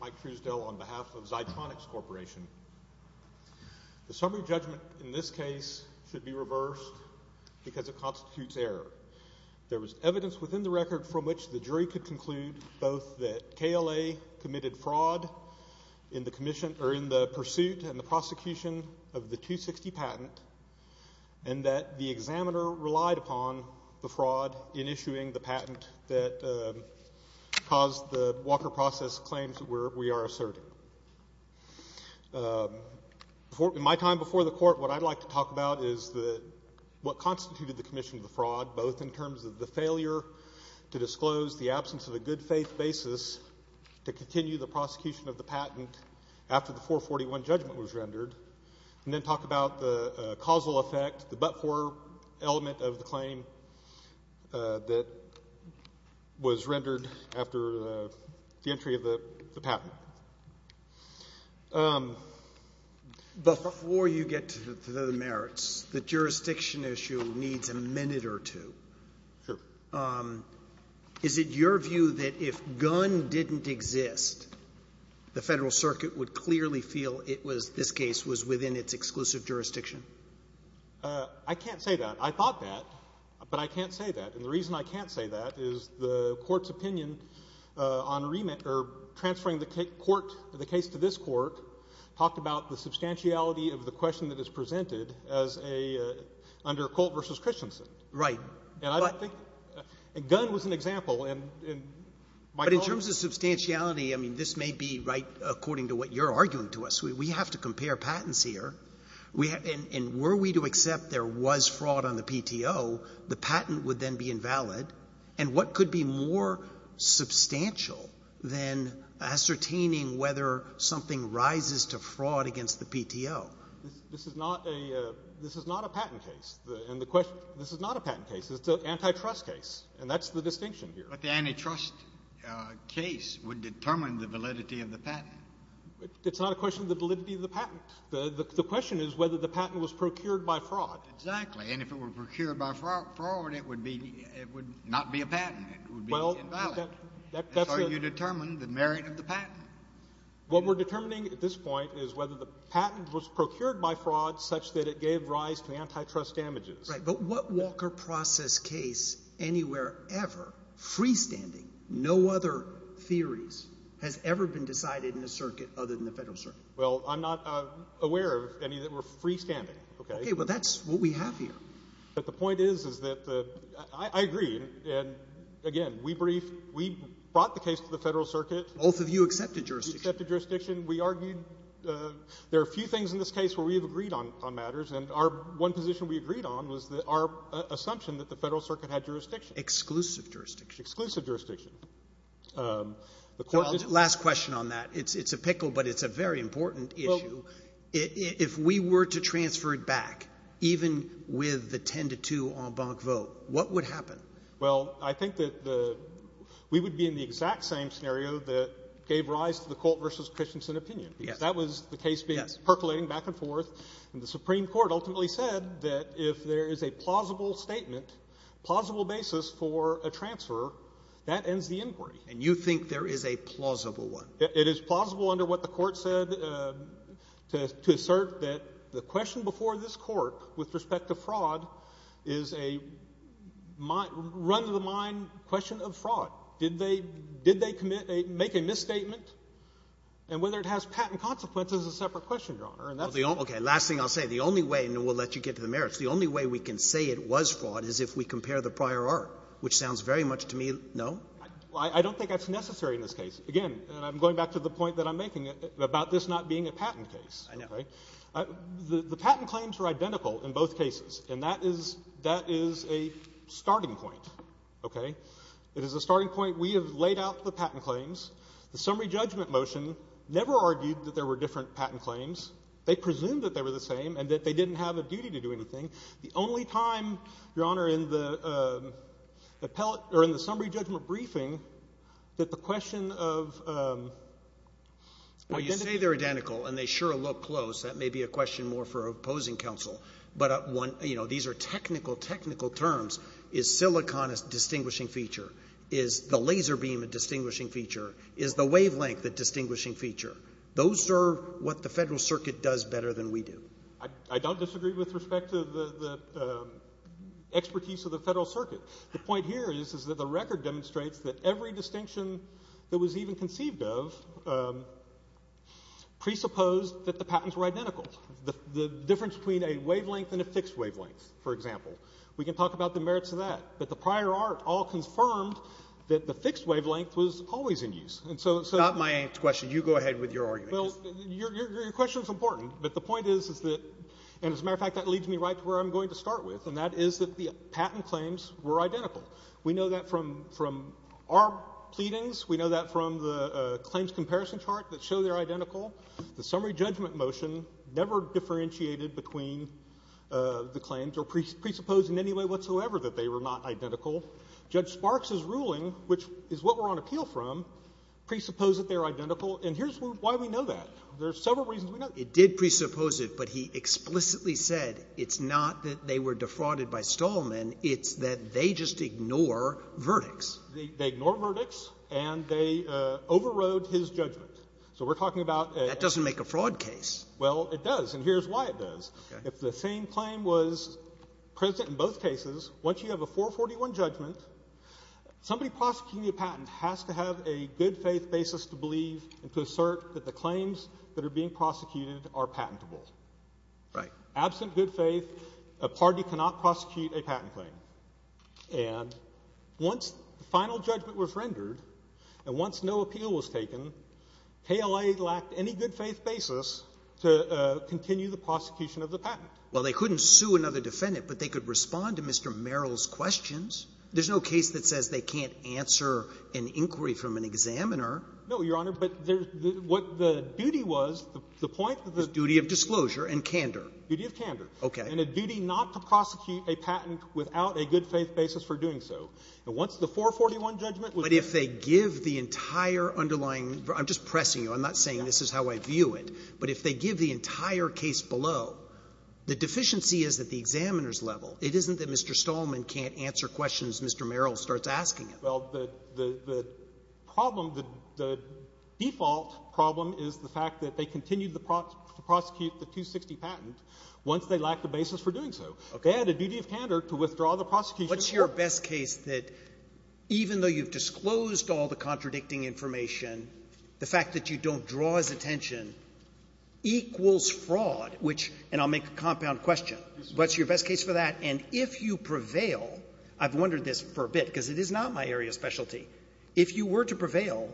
Mike Truesdale on behalf of Zitronix Corporation The summary judgment in this case should be reversed because it constitutes error. There was evidence within the record from which the jury could conclude both that KLA committed fraud in the pursuit and the prosecution of the 260 patent and that the examiner relied upon the fraud in issuing the patent that caused the Walker process claims that we are asserting. In my time before the Court, what I'd like to talk about is what constituted the commission of the fraud, both in terms of the failure to disclose the absence of a good-faith basis to continue the prosecution of the patent after the 441 judgment was rendered, and then talk about the causal effect, the but-for element of the claim that was rendered after the entry of the patent. Before you get to the merits, the jurisdiction issue needs a minute or two. Sure. Is it your view that if Gunn didn't exist, the Federal Circuit would clearly feel it jurisdiction? I can't say that. I thought that, but I can't say that. And the reason I can't say that is the Court's opinion on transferring the case to this Court talked about the substantiality of the question that is presented under Colt v. Christensen. Right. And I don't think Gunn was an example. But in terms of substantiality, I mean, this may be right according to what you're arguing to us. We have to compare patents here. And were we to accept there was fraud on the PTO, the patent would then be invalid. And what could be more substantial than ascertaining whether something rises to fraud against the PTO? This is not a patent case. And the question — this is not a patent case. It's an antitrust case. And that's the distinction here. But the antitrust case would determine the validity of the patent. It's not a question of the validity of the patent. The question is whether the patent was procured by fraud. Exactly. And if it were procured by fraud, it would be — it would not be a patent. It would be invalid. That's how you determine the merit of the patent. What we're determining at this point is whether the patent was procured by fraud such that it gave rise to antitrust damages. Right. But what Walker process case anywhere ever, freestanding no other theories, has ever been decided in the circuit other than the Federal Circuit? Well, I'm not aware of any that were freestanding. Okay. Well, that's what we have here. But the point is, is that the — I agree. And, again, we briefed — we brought the case to the Federal Circuit. Both of you accepted jurisdiction. We accepted jurisdiction. We argued — there are a few things in this case where we have agreed on matters. And our — one position we agreed on was our assumption that the Federal Circuit had jurisdiction. Exclusive jurisdiction. Exclusive jurisdiction. The court — Last question on that. It's a pickle, but it's a very important issue. Well — If we were to transfer it back, even with the 10-2 en banc vote, what would happen? Well, I think that the — we would be in the exact same scenario that gave rise to the Colt v. Christensen opinion. Yes. Because that was the case being — Yes. — percolating back and forth. And the Supreme Court ultimately said that if there is a plausible statement, plausible basis for a transfer, that ends the inquiry. And you think there is a plausible one? It is plausible under what the court said to assert that the question before this court with respect to fraud is a run-of-the-mind question of fraud. Did they — did they commit a — make a misstatement? And whether it has patent consequences is a separate question, Your Honor. And that's — Okay. Last thing I'll say. The only way — and then we'll let you get to the merits. The only way we can say it was fraud is if we compare the prior art, which sounds very much to me — no? Well, I don't think that's necessary in this case. Again, and I'm going back to the point that I'm making about this not being a patent case. I know. Okay? The patent claims are identical in both cases, and that is — that is a starting point. Okay? It is a starting point. We have laid out the patent claims. The summary judgment motion never argued that there were different patent claims. They presumed that they were the same and that they didn't have a duty to do anything. The only time, Your Honor, in the appellate — or in the summary judgment briefing, that the question of — Well, you say they're identical, and they sure look close. That may be a question more for opposing counsel. But one — you know, these are technical, technical terms. Is silicon a distinguishing feature? Is the laser beam a distinguishing feature? Is the wavelength a distinguishing feature? Those are what the Federal Circuit does better than we do. I don't disagree with respect to the expertise of the Federal Circuit. The point here is that the record demonstrates that every distinction that was even conceived of presupposed that the patents were identical. The difference between a wavelength and a fixed wavelength, for example. We can talk about the merits of that. But the prior art all confirmed that the fixed wavelength was always in use. And so — Well, that's not my question. You go ahead with your argument. Well, your question is important. But the point is, is that — and as a matter of fact, that leads me right to where I'm going to start with. And that is that the patent claims were identical. We know that from our pleadings. We know that from the claims comparison chart that show they're identical. The summary judgment motion never differentiated between the claims or presupposed in any way whatsoever that they were not identical. Judge Sparks's ruling, which is what we're on appeal from, presupposed that they're identical. And here's why we know that. There are several reasons we know that. It did presuppose it, but he explicitly said it's not that they were defrauded by Stallman. It's that they just ignore verdicts. They ignore verdicts, and they overrode his judgment. So we're talking about a — That doesn't make a fraud case. Well, it does. And here's why it does. Okay. If the same claim was present in both cases, once you have a 441 judgment, somebody prosecuting a patent has to have a good-faith basis to believe and to assert that the claims that are being prosecuted are patentable. Right. Absent good faith, a party cannot prosecute a patent claim. And once the final judgment was rendered, and once no appeal was taken, KLA lacked any good-faith basis to continue the prosecution of the patent. Well, they couldn't sue another defendant, but they could respond to Mr. Merrill's questions. There's no case that says they can't answer an inquiry from an examiner. No, Your Honor. But there's — what the duty was, the point of the — The duty of disclosure and candor. Duty of candor. Okay. And a duty not to prosecute a patent without a good-faith basis for doing so. And once the 441 judgment was rendered — But if they give the entire underlying — I'm just pressing you. I'm not saying this is how I view it. But if they give the entire case below, the deficiency is at the examiner's level. It isn't that Mr. Stallman can't answer questions Mr. Merrill starts asking him. Well, the problem, the default problem is the fact that they continued to prosecute the 260 patent once they lacked a basis for doing so. Okay. They had a duty of candor to withdraw the prosecution. Well, what's your best case that even though you've disclosed all the contradicting information, the fact that you don't draw his attention equals fraud, which — and I'll make a compound question. What's your best case for that? And if you prevail — I've wondered this for a bit because it is not my area of specialty. If you were to prevail,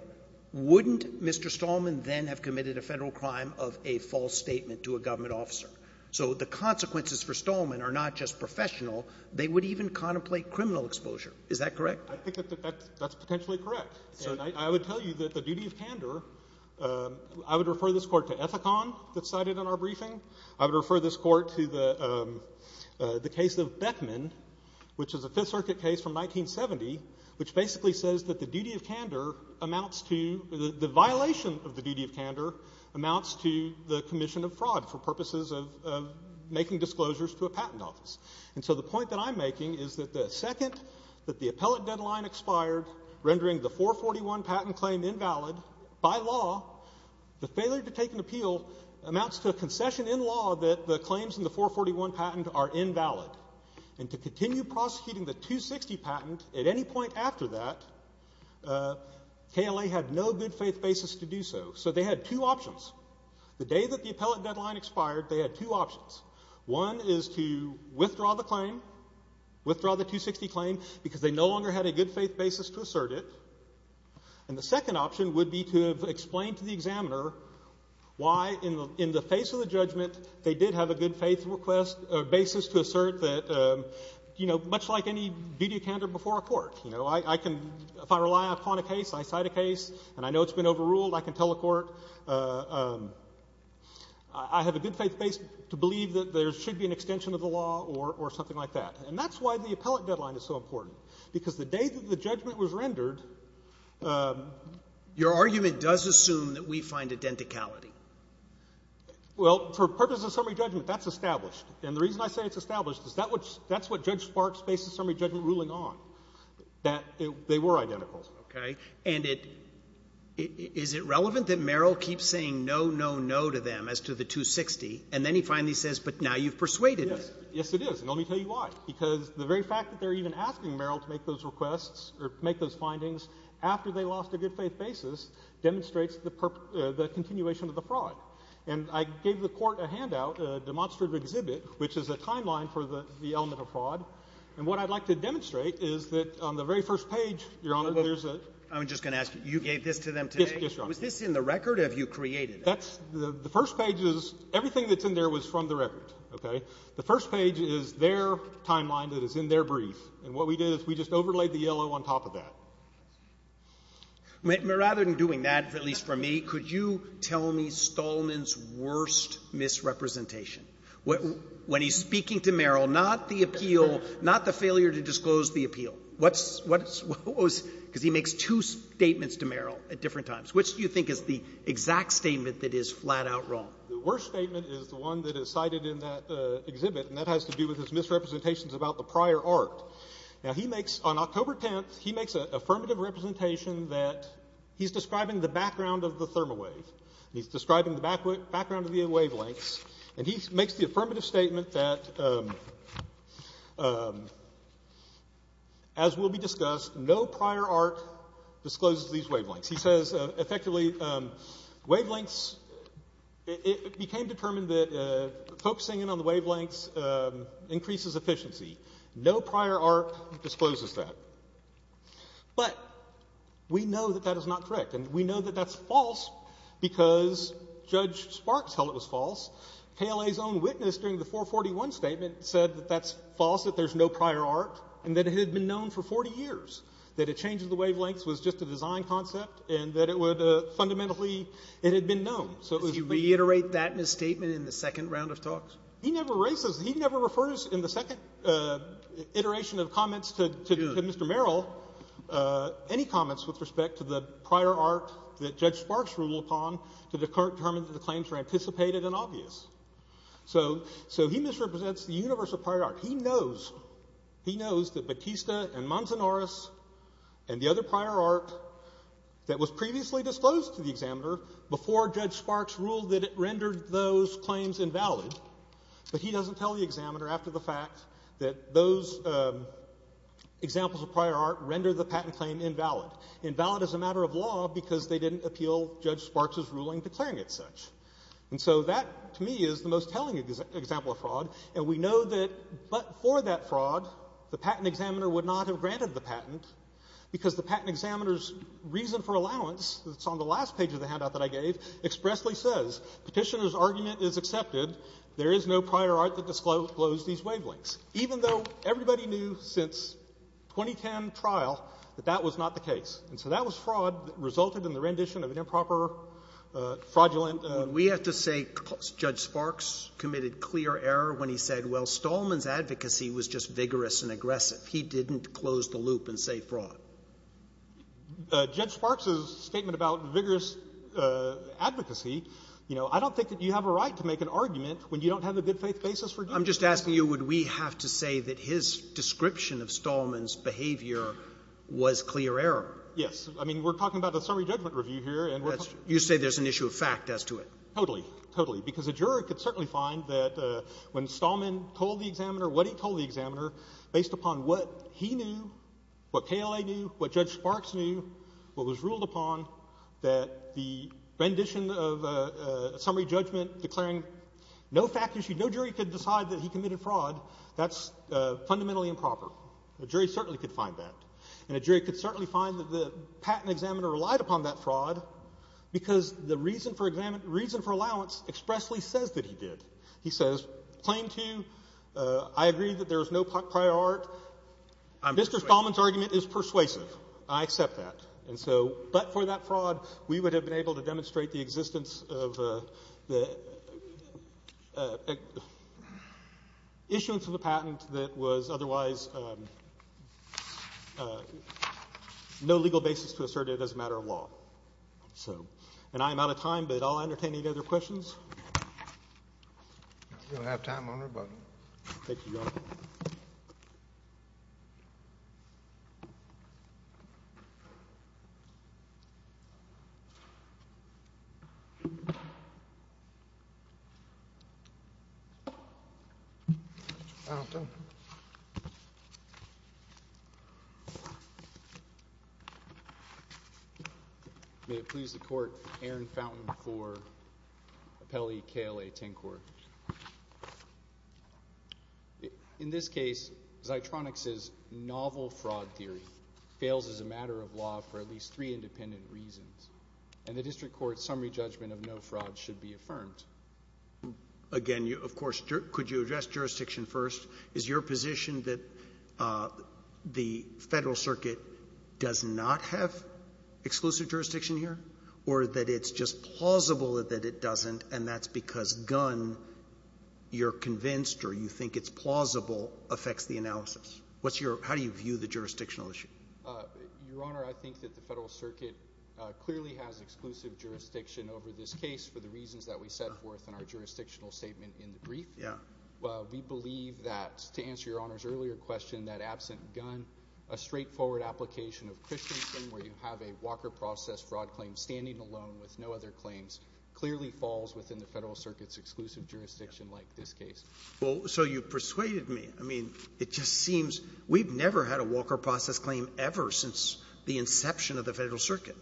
wouldn't Mr. Stallman then have committed a Federal crime of a false statement to a government officer? So the consequences for Stallman are not just professional. They would even contemplate criminal exposure. Is that correct? I think that that's potentially correct. So I would tell you that the duty of candor — I would refer this Court to Ethicon that's cited in our briefing. I would refer this Court to the case of Beckman, which is a Fifth Circuit case from 1970, which basically says that the duty of candor amounts to — the violation of the duty of candor amounts to the commission of fraud for purposes of making disclosures to a patent office. And so the point that I'm making is that the second that the appellate deadline expired, rendering the 441 patent claim invalid, by law, the failure to take an appeal amounts to a concession in law that the claims in the 441 patent are invalid. And to continue prosecuting the 260 patent at any point after that, KLA had no good faith basis to do so. So they had two options. The day that the appellate deadline expired, they had two options. One is to withdraw the claim, withdraw the 260 claim, because they no longer had a good faith basis to assert it. And the second option would be to explain to the examiner why, in the face of the judgment, they did have a good faith request — basis to assert that, you know, much like any duty of candor before a court. You know, I can — if I rely upon a case, I cite a case, and I know it's been overruled, I can tell a court, I have a good faith basis to believe that there should be an extension of the law or something like that. And that's why the appellate deadline is so important. Because the day that the judgment was rendered — Your argument does assume that we find identicality. Well, for purposes of summary judgment, that's established. And the reason I say it's established is that's what Judge Sparks based the summary judgment ruling on, that they were identical. Okay. And it — is it relevant that Merrill keeps saying no, no, no to them as to the 260, and then he finally says, but now you've persuaded us? Yes. Yes, it is. And let me tell you why. Because the very fact that they're even asking Merrill to make those requests or make those findings after they lost a good faith basis demonstrates the — the continuation of the fraud. And I gave the Court a handout, a demonstrative exhibit, which is a timeline for the — the element of fraud. And what I'd like to demonstrate is that on the very first page, Your Honor, there's a — I'm just going to ask you. You gave this to them today? Yes. Yes, Your Honor. Was this in the record? Have you created it? That's — the first page is — everything that's in there was from the record. Okay? The first page is their timeline that is in their brief. And what we did is we just overlaid the yellow on top of that. Rather than doing that, at least for me, could you tell me Stallman's worst misrepresentation? When he's speaking to Merrill, not the appeal, not the failure to disclose the appeal. What's — what was — because he makes two statements to Merrill at different times. Which do you think is the exact statement that is flat-out wrong? The worst statement is the one that is cited in that exhibit, and that has to do with his misrepresentations about the prior art. Now, he makes — on October 10th, he makes an affirmative representation that he's describing the background of the thermowave. He's describing the background of the wavelengths. And he makes the affirmative statement that, as will be discussed, no prior art discloses these wavelengths. He says, effectively, wavelengths — it became determined that focusing in on the wavelengths increases efficiency. No prior art discloses that. But we know that that is not correct. And we know that that's false because Judge Sparks held it was false. KLA's own witness during the 441 statement said that that's false, that there's no prior art, and that it had been known for 40 years, that a change of the wavelengths was just a design concept, and that it would — fundamentally, it had been known. So it was — Does he reiterate that misstatement in the second round of talks? He never raises — he never refers in the second iteration of comments to Mr. Merrill any comments with respect to the prior art that Judge Sparks ruled upon to determine that the claims were anticipated and obvious. So he misrepresents the universe of prior art. He knows — he knows that Batista and Manzanares and the other prior art that was previously disclosed to the examiner before Judge Sparks ruled that it rendered those claims invalid, but he doesn't tell the examiner after the fact that those examples of prior art rendered the patent claim invalid. Invalid is a matter of law because they didn't appeal Judge Sparks' ruling declaring it such. And so that, to me, is the most telling example of fraud, and we know that but for that fraud, the patent examiner would not have granted the patent because the patent examiner's reason for allowance that's on the last page of the handout that I gave expressly says, Petitioner's argument is accepted. There is no prior art that disclosed these wavelengths. Even though everybody knew since 2010 trial that that was not the case. And so that was fraud that resulted in the rendition of an improper, fraudulent — We have to say Judge Sparks committed clear error when he said, well, Stallman's advocacy was just vigorous and aggressive. He didn't close the loop and say fraud. Judge Sparks' statement about vigorous advocacy, you know, I don't think that you have a right to make an argument when you don't have a good-faith basis for doing that. But I'm just asking you, would we have to say that his description of Stallman's behavior was clear error? Yes. I mean, we're talking about a summary judgment review here, and we're talking about — You say there's an issue of fact as to it. Totally. Totally. Because a juror could certainly find that when Stallman told the examiner what he told the examiner, based upon what he knew, what KLA knew, what Judge Sparks knew, what KLA knew, the rendition of a summary judgment declaring no fact issue, no jury could decide that he committed fraud, that's fundamentally improper. A jury certainly could find that. And a jury could certainly find that the patent examiner relied upon that fraud because the reason for allowance expressly says that he did. He says, claim to, I agree that there is no prior art. Mr. Stallman's argument is persuasive. I accept that. But for that fraud, we would have been able to demonstrate the existence of the issuance of the patent that was otherwise no legal basis to assert it as a matter of law. And I am out of time, but I'll entertain any other questions. We don't have time, Your Honor, but — Thank you, Your Honor. May it please the Court, Aaron Fountain for Appellee KLA-10 Court. In this case, Zitronix's novel fraud theory fails as a matter of law for at least three independent reasons. And the district court's summary judgment of no fraud should be affirmed. Again, of course, could you address jurisdiction first? Is your position that the Federal Circuit does not have exclusive jurisdiction here, or that it's just plausible that it doesn't, and that's because Gunn, you're convinced or you think it's plausible, affects the analysis? What's your — how do you view the jurisdictional issue? Your Honor, I think that the Federal Circuit clearly has exclusive jurisdiction over this case for the reasons that we set forth in our jurisdictional statement in the brief. Yeah. We believe that, to answer Your Honor's earlier question, that absent Gunn, a straightforward application of Christensen, where you have a Walker process fraud claim standing alone with no other claims, clearly falls within the Federal Circuit's exclusive jurisdiction like this case. Well, so you've persuaded me. I mean, it just seems — we've never had a Walker process claim ever since the inception of the Federal Circuit,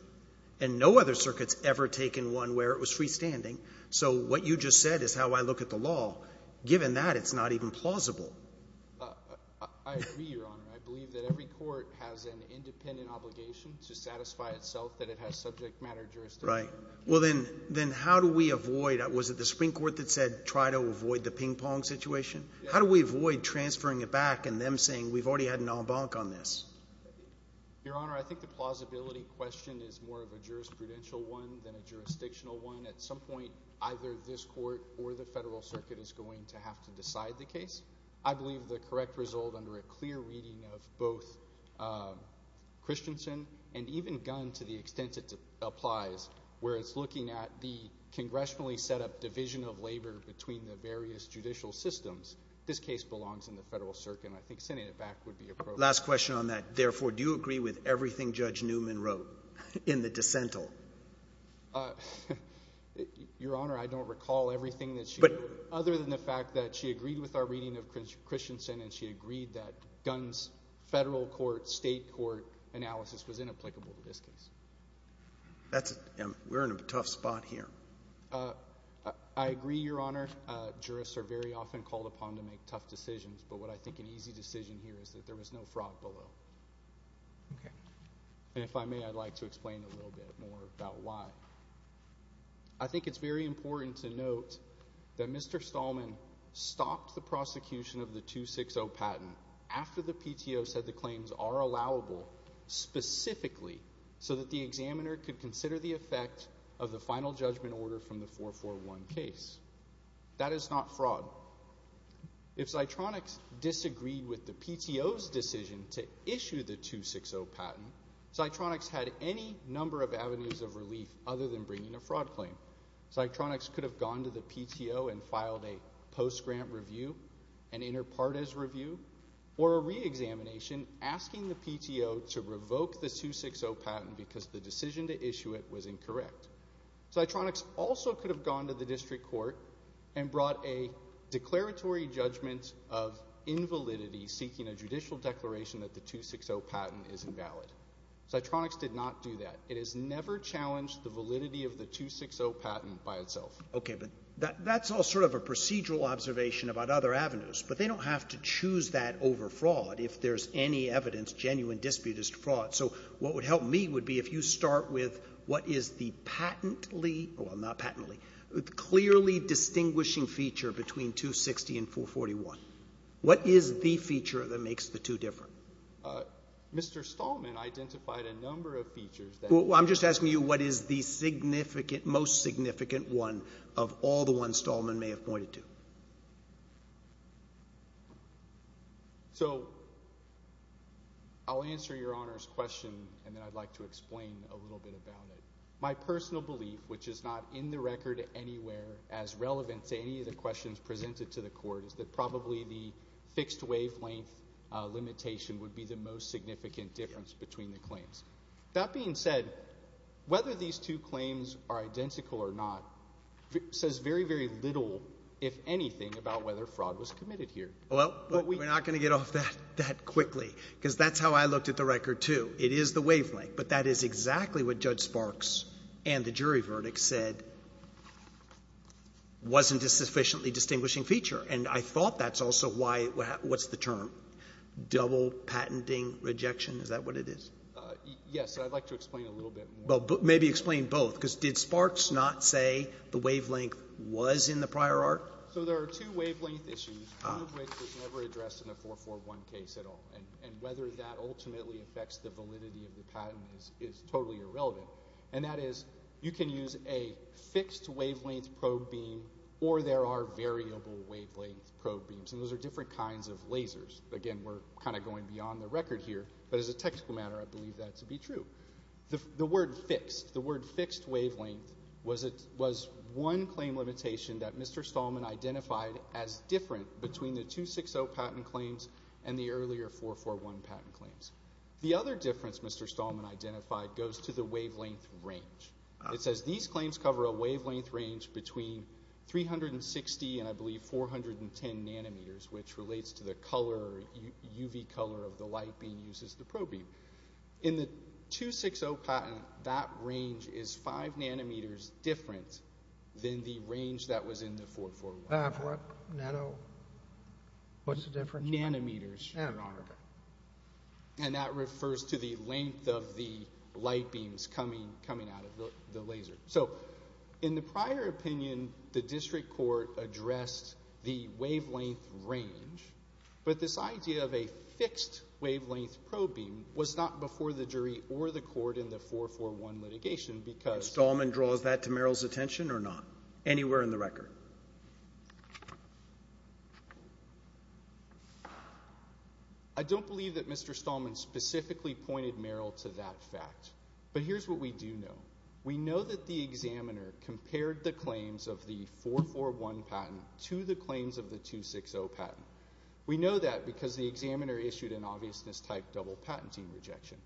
and no other circuit's ever taken one where it was freestanding. So what you just said is how I look at the law. Given that, it's not even plausible. I agree, Your Honor. I believe that every court has an independent obligation to satisfy itself that it has subject matter jurisdiction. Right. Well, then how do we avoid — was it the Supreme Court that said try to avoid the ping-pong situation? Yeah. How do we avoid transferring it back and them saying we've already had an en banc on this? Your Honor, I think the plausibility question is more of a jurisprudential one than a jurisdictional one. I believe the correct result under a clear reading of both Christensen and even Gunn, to the extent it applies, where it's looking at the congressionally set up division of labor between the various judicial systems, this case belongs in the Federal Circuit, and I think sending it back would be appropriate. Last question on that. Therefore, do you agree with everything Judge Newman wrote in the dissent? Your Honor, I don't recall everything that she wrote, other than the fact that she agreed with our reading of Christensen and she agreed that Gunn's federal court, state court analysis was inapplicable to this case. That's — we're in a tough spot here. I agree, Your Honor. Jurists are very often called upon to make tough decisions, but what I think an easy decision here is that there was no fraud below. Okay. And if I may, I'd like to explain a little bit more about why. I think it's very important to note that Mr. Stallman stopped the prosecution of the 260 patent after the PTO said the claims are allowable specifically so that the examiner could consider the effect of the final judgment order from the 441 case. That is not fraud. If Zitronix disagreed with the PTO's decision to issue the 260 patent, Zitronix had any number of avenues of relief other than bringing a fraud claim. Zitronix could have gone to the PTO and filed a post-grant review, an inter partes review, or a reexamination asking the PTO to revoke the 260 patent because the decision to issue it was incorrect. Zitronix also could have gone to the district court and brought a declaratory judgment of invalidity seeking a judicial declaration that the 260 patent is invalid. Zitronix did not do that. It has never challenged the validity of the 260 patent by itself. Okay. But that's all sort of a procedural observation about other avenues. But they don't have to choose that over fraud if there's any evidence, genuine disputed fraud. So what would help me would be if you start with what is the patently, well not patently, clearly distinguishing feature between 260 and 441. What is the feature that makes the two different? Mr. Stallman identified a number of features that I'm just asking you what is the significant, most significant one of all the ones Stallman may have pointed to. So I'll answer your Honor's question and then I'd like to explain a little bit about it. My personal belief, which is not in the record anywhere as relevant to any of the questions presented to the Court, is that probably the fixed wavelength limitation would be the most significant difference between the claims. That being said, whether these two claims are identical or not says very, very little, if anything, about whether fraud was committed here. Well, we're not going to get off that that quickly because that's how I looked at the record, too. It is the wavelength, but that is exactly what Judge Sparks and the jury verdict said wasn't a sufficiently distinguishing feature. And I thought that's also why what's the term? Double patenting rejection? Is that what it is? Yes. I'd like to explain a little bit more. Maybe explain both, because did Sparks not say the wavelength was in the prior art? So there are two wavelength issues, one of which was never addressed in the 441 case at all. And whether that ultimately affects the validity of the patent is totally irrelevant. And that is, you can use a fixed wavelength probe beam or there are variable wavelength probe beams, and those are different kinds of lasers. Again, we're kind of going beyond the record here, but as a technical matter, I believe that to be true. The word fixed, the word fixed wavelength was one claim limitation that Mr. Stallman identified as different between the 260 patent claims and the earlier 441 patent claims. The other difference Mr. Stallman identified goes to the wavelength range. It says these claims cover a wavelength range between 360 and I believe 410 nanometers, which relates to the color, UV color of the light being used as the probe beam. In the 260 patent, that range is five nanometers different than the range that was in the 441. What's the difference? Nanometers. Nanometers. And that refers to the length of the light beams coming out of the laser. So in the prior opinion, the district court addressed the wavelength range, but this idea of a fixed wavelength probe beam was not before the jury or the court in the 441 litigation because— Mr. Stallman draws that to Merrill's attention or not? Anywhere in the record. I don't believe that Mr. Stallman specifically pointed Merrill to that fact, but here's what we do know. We know that the examiner compared the claims of the 441 patent to the claims of the 260 patent. We know that because the examiner issued an obviousness type double patenting rejection,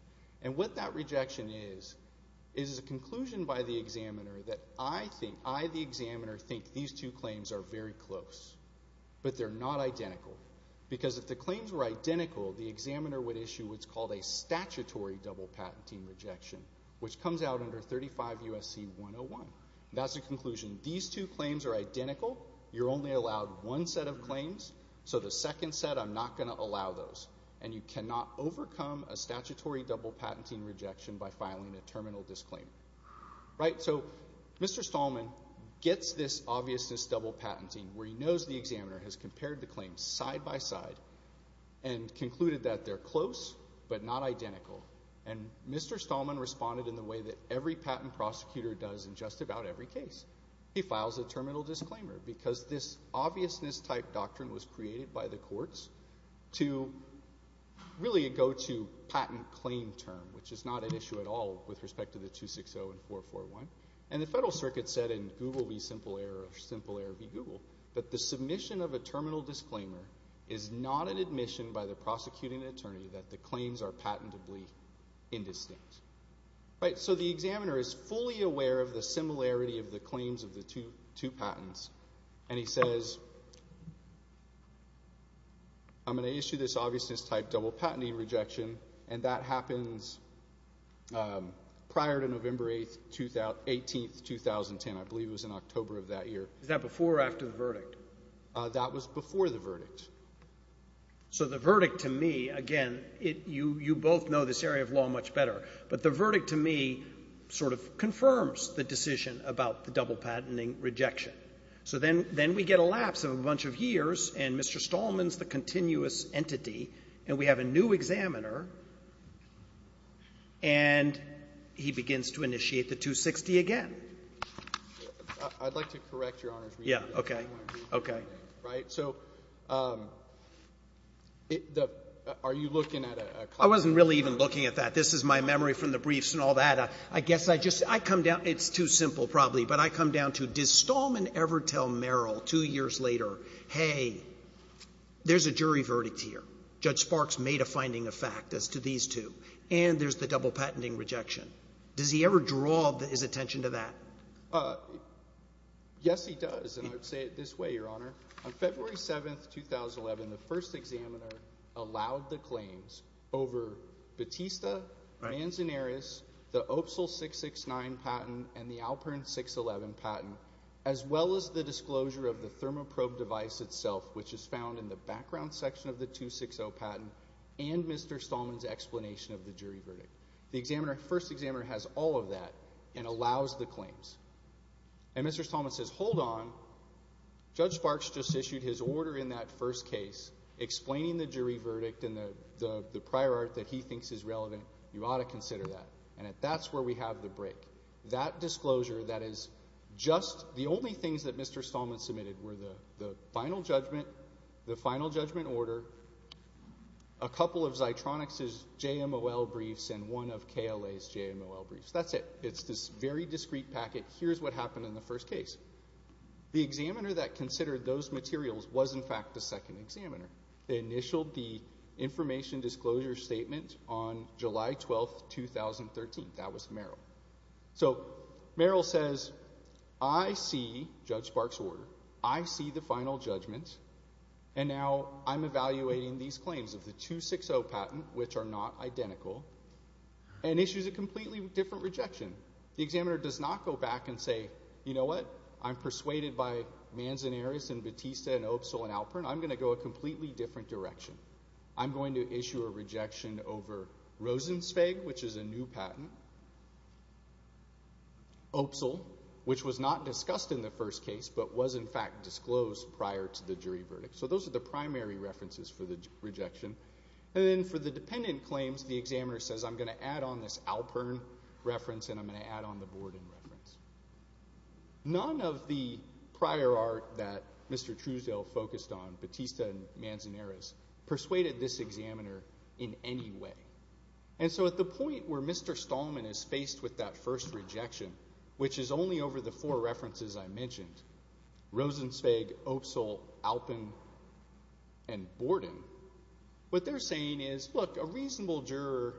and what that rejection is is a conclusion by the examiner that I think—I, the examiner, think these two claims are very close, but they're not identical because if the claims were identical, the examiner would issue what's called a statutory double patenting rejection, which comes out under 35 U.S.C. 101. That's a conclusion. These two claims are identical. You're only allowed one set of claims, so the second set, I'm not going to allow those, and you cannot overcome a statutory double patenting rejection by filing a terminal disclaimer. Right? So Mr. Stallman gets this obviousness double patenting where he knows the examiner has compared the claims side by side and concluded that they're close but not identical, and Mr. Stallman responded in the way that every patent prosecutor does in just about every case. He files a terminal disclaimer because this obviousness type doctrine was created by the courts to really go to patent claim term, which is not an issue at all with respect to the 260 and 441, and the Federal Circuit said in Google v. Simple Error or Simple Error v. Google that the submission of a terminal disclaimer is not an admission by the prosecuting attorney that the claims are patentably indistinct. Right? So the examiner is fully aware of the similarity of the claims of the two patents, and he says, I'm going to issue this obviousness type double patenting rejection, and that happens prior to November 18, 2010. I believe it was in October of that year. Is that before or after the verdict? That was before the verdict. So the verdict to me, again, you both know this area of law much better, but the verdict to me sort of confirms the decision about the double patenting rejection. So then we get a lapse of a bunch of years, and Mr. Stallman's the continuous entity, and we have a new examiner, and he begins to initiate the 260 again. I'd like to correct Your Honor's reading. Yeah. Okay. Okay. Right? So are you looking at a copy? I wasn't really even looking at that. This is my memory from the briefs and all that. But I guess I just, I come down, it's too simple probably, but I come down to, does Stallman ever tell Merrill two years later, hey, there's a jury verdict here. Judge Sparks made a finding of fact as to these two, and there's the double patenting rejection. Does he ever draw his attention to that? Yes, he does, and I would say it this way, Your Honor. On February 7, 2011, the first examiner allowed the claims over Batista, Manzanares, the OPSL 669 patent, and the Alpern 611 patent, as well as the disclosure of the thermoprobe device itself, which is found in the background section of the 260 patent, and Mr. Stallman's explanation of the jury verdict. The examiner, first examiner, has all of that and allows the claims. And Mr. Stallman says, hold on. Judge Sparks just issued his order in that first case explaining the jury verdict and the prior art that he thinks is relevant. You ought to consider that. And that's where we have the break. That disclosure that is just, the only things that Mr. Stallman submitted were the final judgment, the final judgment order, a couple of Xitronix's JMOL briefs, and one of KLA's JMOL briefs. That's it. It's this very discrete packet. Here's what happened in the first case. The examiner that considered those materials was, in fact, the second examiner. They initialed the information disclosure statement on July 12, 2013. That was Merrill. So Merrill says, I see Judge Sparks' order. I see the final judgment. And now I'm evaluating these claims of the 260 patent, which are not identical, and issues a completely different rejection. The examiner does not go back and say, you know what? I'm persuaded by Manzanares and Batista and Opsal and Alpern. I'm going to go a completely different direction. I'm going to issue a rejection over Rosenzweig, which is a new patent. Opsal, which was not discussed in the first case but was, in fact, disclosed prior to the jury verdict. So those are the primary references for the rejection. And then for the dependent claims, the examiner says, I'm going to add on this Alpern reference and I'm going to add on the Borden reference. None of the prior art that Mr. Truesdale focused on, Batista and Manzanares, persuaded this examiner in any way. And so at the point where Mr. Stallman is faced with that first rejection, which is only over the four references I mentioned, Rosenzweig, Opsal, Alpern, and Borden, what they're saying is, look, a reasonable juror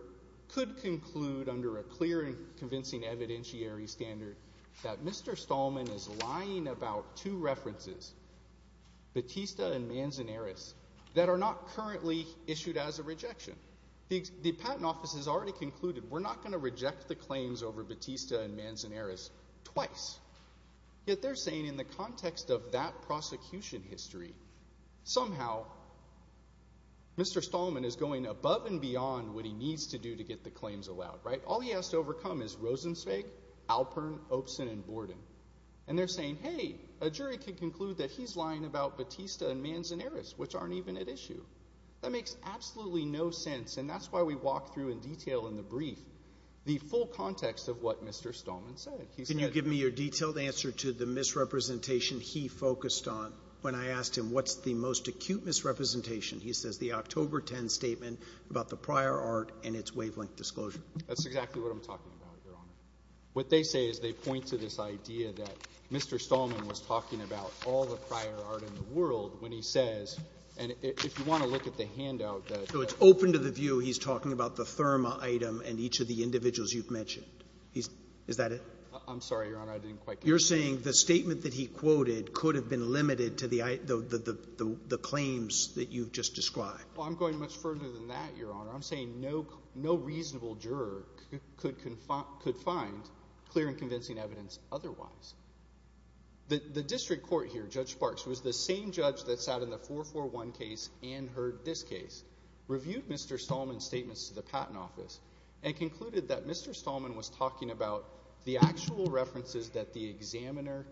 could conclude under a clear and convincing evidentiary standard that Mr. Stallman is lying about two references, Batista and Manzanares, that are not currently issued as a rejection. The patent office has already concluded we're not going to reject the claims over Batista and Manzanares twice. Yet they're saying in the context of that prosecution history, somehow Mr. Stallman is going above and beyond what he needs to do to get the claims allowed, right? All he has to overcome is Rosenzweig, Alpern, Opsal, and Borden. And they're saying, hey, a jury could conclude that he's lying about Batista and Manzanares, which aren't even at issue. That makes absolutely no sense, and that's why we walk through in detail in the brief the full context of what Mr. Stallman said. Can you give me your detailed answer to the misrepresentation he focused on when I asked him what's the most acute misrepresentation? He says the October 10th statement about the prior art and its wavelength disclosure. That's exactly what I'm talking about, Your Honor. What they say is they point to this idea that Mr. Stallman was talking about all the prior art in the world when he says, and if you want to look at the handout that ---- So it's open to the view he's talking about the Thurma item and each of the individuals you've mentioned. Is that it? I'm sorry, Your Honor. I didn't quite get it. You're saying the statement that he quoted could have been limited to the claims that you've just described. Well, I'm going much further than that, Your Honor. I'm saying no reasonable juror could find clear and convincing evidence otherwise. The district court here, Judge Sparks, was the same judge that sat in the 441 case and heard this case, reviewed Mr. Stallman's statements to the Patent Office and concluded that Mr. Stallman was talking about the actual references that the examiner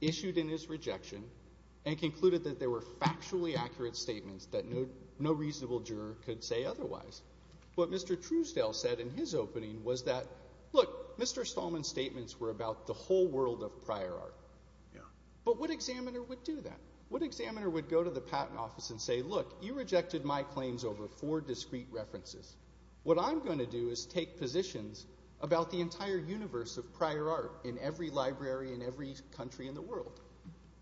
issued in his rejection and concluded that there were factually accurate statements that no reasonable juror could say otherwise. What Mr. Truesdale said in his opening was that, look, Mr. Stallman's statements were about the whole world of prior art. But what examiner would do that? What examiner would go to the Patent Office and say, look, you rejected my claims over four discrete references. What I'm going to do is take positions about the entire universe of prior art in every library in every country in the world.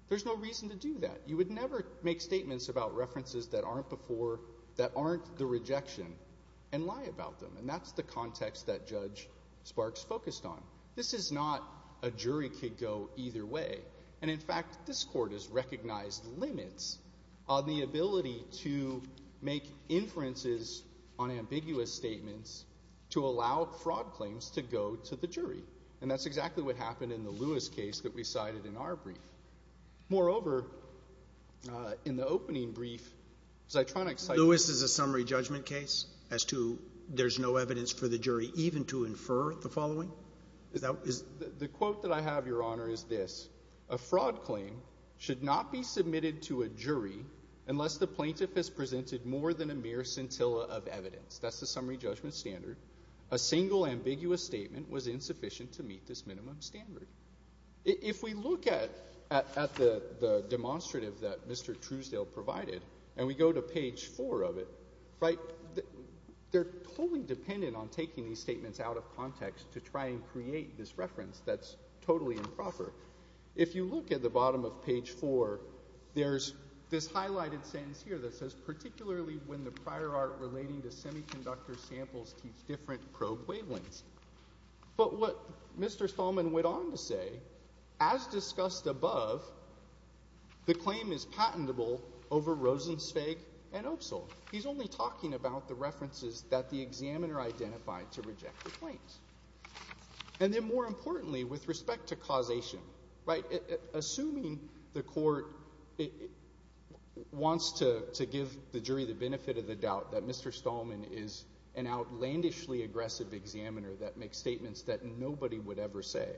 There's no reason to do that. You would never make statements about references that aren't the rejection and lie about them. And that's the context that Judge Sparks focused on. This is not a jury could go either way. And, in fact, this court has recognized limits on the ability to make inferences on ambiguous statements to allow fraud claims to go to the jury. And that's exactly what happened in the Lewis case that we cited in our brief. Moreover, in the opening brief, as I try to excite you. Lewis is a summary judgment case as to there's no evidence for the jury even to infer the following? The quote that I have, Your Honor, is this. A fraud claim should not be submitted to a jury unless the plaintiff has presented more than a mere scintilla of evidence. That's the summary judgment standard. A single ambiguous statement was insufficient to meet this minimum standard. If we look at the demonstrative that Mr. Truesdale provided and we go to page four of it, right, they're totally dependent on taking these statements out of context to try and create this reference that's totally improper. If you look at the bottom of page four, there's this highlighted sentence here that says particularly when the prior art relating to semiconductor samples teach different probe wavelengths. But what Mr. Stallman went on to say, as discussed above, the claim is patentable over Rosenzweig and Opsal. He's only talking about the references that the examiner identified to reject the claims. And then more importantly, with respect to causation, right, assuming the court wants to give the jury the benefit of the doubt that Mr. Stallman is an outlandishly aggressive examiner that makes statements that nobody would ever say,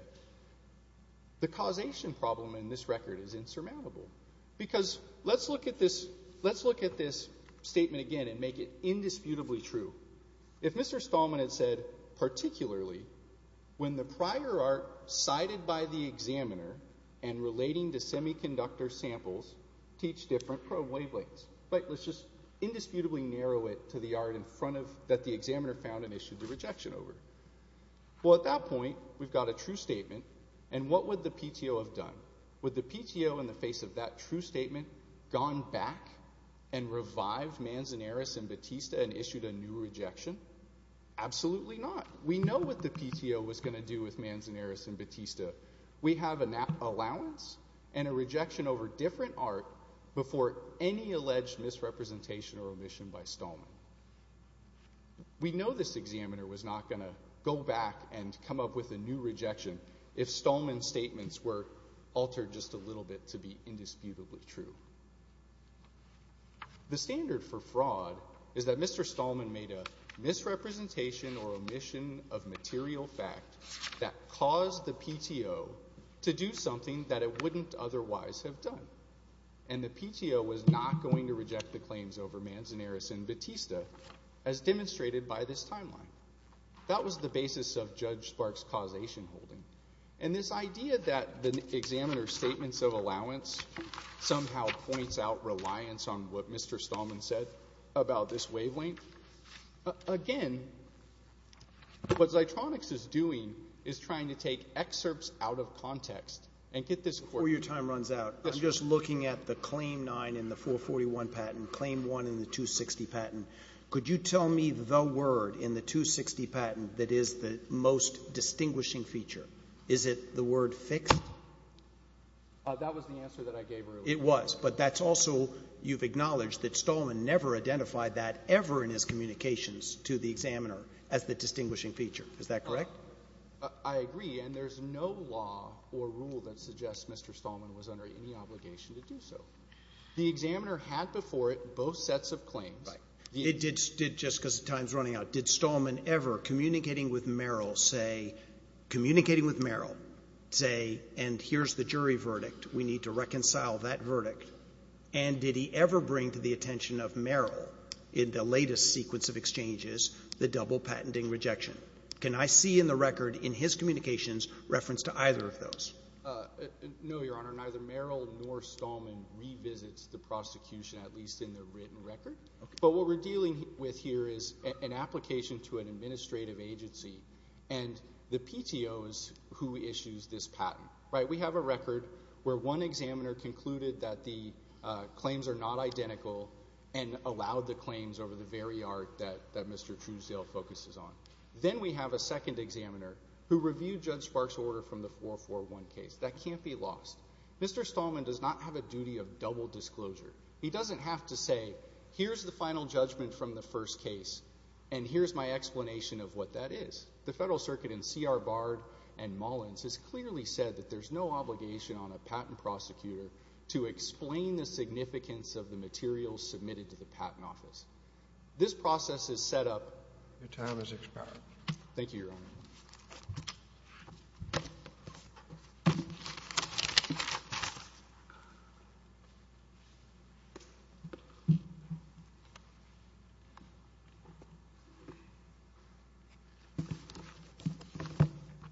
the causation problem in this record is insurmountable. Because let's look at this statement again and make it indisputably true. If Mr. Stallman had said particularly when the prior art cited by the examiner and relating to semiconductor samples teach different probe wavelengths, right, let's just indisputably narrow it to the art in front of, that the examiner found and issued the rejection over. Well, at that point, we've got a true statement and what would the PTO have done? Would the PTO, in the face of that true statement, gone back and revived Manzanaris and Batista and issued a new rejection? Absolutely not. We know what the PTO was going to do with Manzanaris and Batista. We have an allowance and a rejection over different art before any alleged misrepresentation or omission by Stallman. We know this examiner was not going to go back and come up with a new rejection if it were altered just a little bit to be indisputably true. The standard for fraud is that Mr. Stallman made a misrepresentation or omission of material fact that caused the PTO to do something that it wouldn't otherwise have done. And the PTO was not going to reject the claims over Manzanaris and Batista as demonstrated by this timeline. That was the basis of Judge Spark's causation holding. And this idea that the examiner's statements of allowance somehow points out reliance on what Mr. Stallman said about this wavelength. Again, what Zitronix is doing is trying to take excerpts out of context and get this court. Before your time runs out, I'm just looking at the Claim 9 in the 441 patent, Claim 1 in the 260 patent. Could you tell me the word in the 260 patent that is the most distinguishing feature? Is it the word fixed? That was the answer that I gave earlier. It was. But that's also you've acknowledged that Stallman never identified that ever in his communications to the examiner as the distinguishing feature. Is that correct? I agree. And there's no law or rule that suggests Mr. Stallman was under any obligation to do so. The examiner had before it both sets of claims. It did just because the time is running out. Did Stallman ever, communicating with Merrill, say, communicating with Merrill, say, and here's the jury verdict, we need to reconcile that verdict? And did he ever bring to the attention of Merrill in the latest sequence of exchanges the double patenting rejection? Can I see in the record in his communications reference to either of those? No, Your Honor. Neither Merrill nor Stallman revisits the prosecution, at least in their written record. But what we're dealing with here is an application to an administrative agency, and the PTO is who issues this patent. We have a record where one examiner concluded that the claims are not identical and allowed the claims over the very art that Mr. Truesdale focuses on. Then we have a second examiner who reviewed Judge Sparks' order from the 441 case. That can't be lost. Mr. Stallman does not have a duty of double disclosure. He doesn't have to say, here's the final judgment from the first case and here's my explanation of what that is. The Federal Circuit in C.R. Bard and Mullins has clearly said that there's no obligation on a patent prosecutor to explain the significance of the materials submitted to the Patent Office. This process is set up. Your time has expired. Thank you, Your Honor.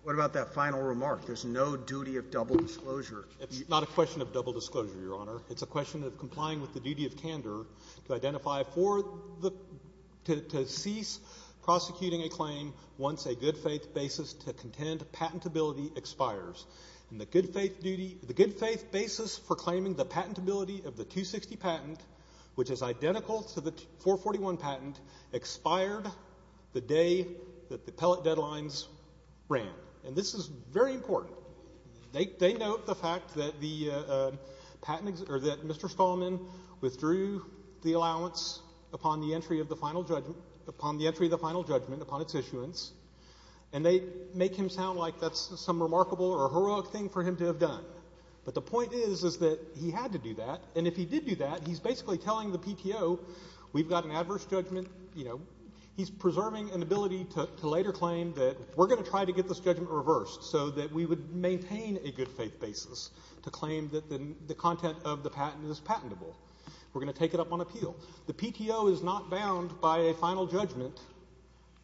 What about that final remark? There's no duty of double disclosure. It's not a question of double disclosure, Your Honor. It's a question of complying with the duty of candor to identify for the to cease prosecuting a claim once a good faith basis to contend patentability expires. And the good faith duty, the good faith basis for claiming the patentability of the 260 patent, which is identical to the 441 patent, expired the day that the pellet deadlines ran. And this is very important. They note the fact that the patent, or that Mr. Stallman withdrew the allowance upon the entry of the final judgment upon its issuance, and they make him sound like that's some remarkable or heroic thing for him to have done. But the point is, is that he had to do that. And if he did do that, he's basically telling the PTO, we've got an adverse judgment. You know, he's preserving an ability to later claim that we're going to try to get this judgment reversed so that we would maintain a good faith basis to claim that the content of the patent is patentable. We're going to take it up on appeal. The PTO is not bound by a final judgment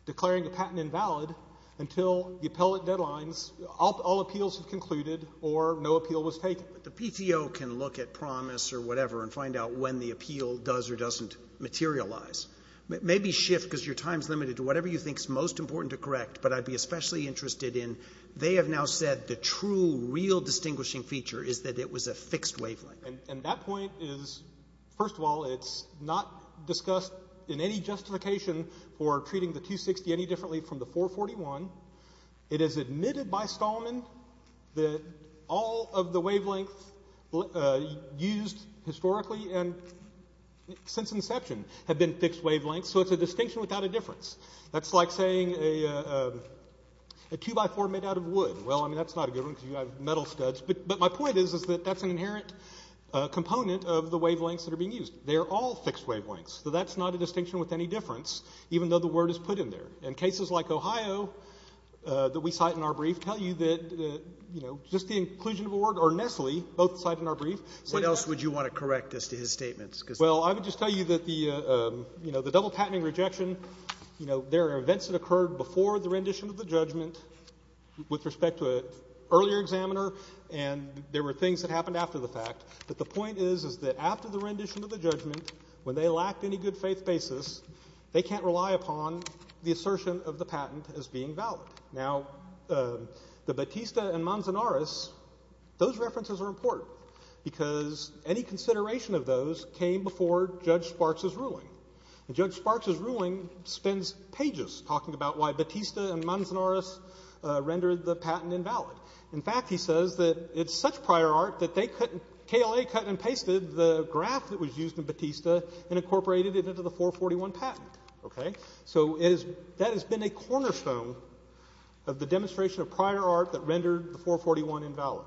declaring a patent invalid until the pellet deadlines, all appeals have concluded, or no appeal was taken. But the PTO can look at promise or whatever and find out when the appeal does or doesn't materialize. Maybe shift, because your time is limited, to whatever you think is most important to correct. But I'd be especially interested in, they have now said the true, real distinguishing feature is that it was a fixed wavelength. And that point is, first of all, it's not discussed in any justification for treating the 260 any differently from the 441. It is admitted by Stallman that all of the wavelengths used historically and since inception have been fixed wavelengths. So it's a distinction without a difference. That's like saying a 2x4 made out of wood. Well, I mean, that's not a good one because you have metal studs. But my point is that that's an inherent component of the wavelengths that are being used. They are all fixed wavelengths. So that's not a distinction with any difference, even though the word is put in there. And cases like Ohio that we cite in our brief tell you that just the inclusion of a word or Nestle, both cited in our brief. What else would you want to correct as to his statements? Well, I would just tell you that the double patenting rejection, there are events that occurred before the rendition of the judgment with respect to an earlier examiner, and there were things that happened after the fact. But the point is, is that after the rendition of the judgment, when they lacked any good assertion of the patent as being valid. Now, the Batista and Manzanares, those references are important because any consideration of those came before Judge Sparks' ruling. And Judge Sparks' ruling spends pages talking about why Batista and Manzanares rendered the patent invalid. In fact, he says that it's such prior art that KLA cut and pasted the graph that was used in Batista and incorporated it into the 441 patent. Okay? So that has been a cornerstone of the demonstration of prior art that rendered the 441 invalid.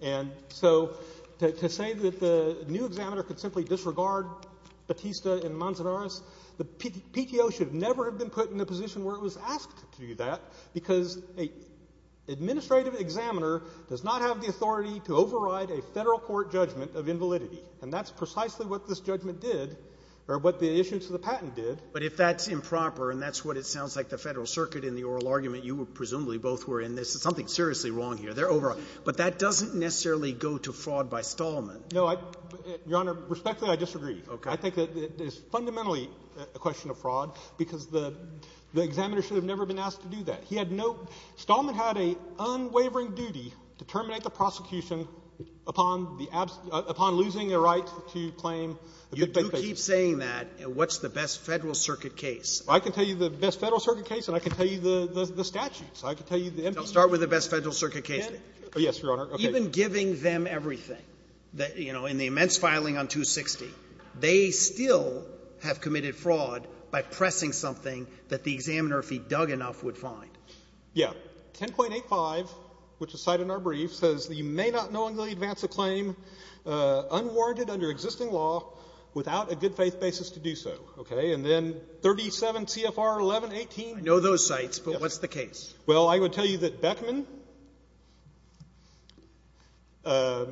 And so to say that the new examiner could simply disregard Batista and Manzanares, the PTO should never have been put in a position where it was asked to do that because an administrative examiner does not have the authority to override a federal court judgment of invalidity. And that's precisely what this judgment did or what the issuance of the patent did. But if that's improper and that's what it sounds like, the Federal Circuit in the oral argument, you presumably both were in this. There's something seriously wrong here. They're overriding. But that doesn't necessarily go to fraud by Stallman. No. Your Honor, respectfully, I disagree. Okay. I think it is fundamentally a question of fraud because the examiner should have never been asked to do that. He had no — Stallman had an unwavering duty to terminate the prosecution upon the — upon losing the right to claim the fake cases. You do keep saying that. What's the best Federal Circuit case? I can tell you the best Federal Circuit case, and I can tell you the statutes. I can tell you the emphasis. Start with the best Federal Circuit case. Yes, Your Honor. Even giving them everything, you know, in the immense filing on 260, they still have committed fraud by pressing something that the examiner, if he dug enough, would find. Yeah. 10.85, which is cited in our brief, says that you may not knowingly advance a claim unwarranted under existing law without a good-faith basis to do so. Okay? And then 37 CFR 1118. I know those sites, but what's the case? Well, I would tell you that Beckman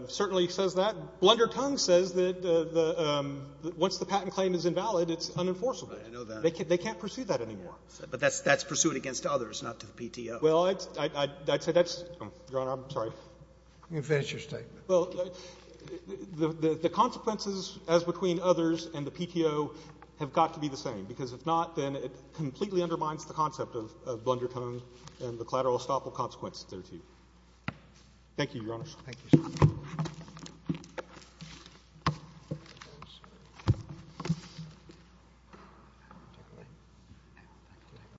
certainly says that. Blundertongue says that once the patent claim is invalid, it's unenforceable. I know that. They can't pursue that anymore. But that's pursuant against others, not to the PTO. Well, I'd say that's — Your Honor, I'm sorry. You can finish your statement. Well, the consequences as between others and the PTO have got to be the same, because if not, then it completely undermines the concept of Blundertongue and the collateral estoppel consequences there, too. Thank you, Your Honor. Thank you, sir. Thank you.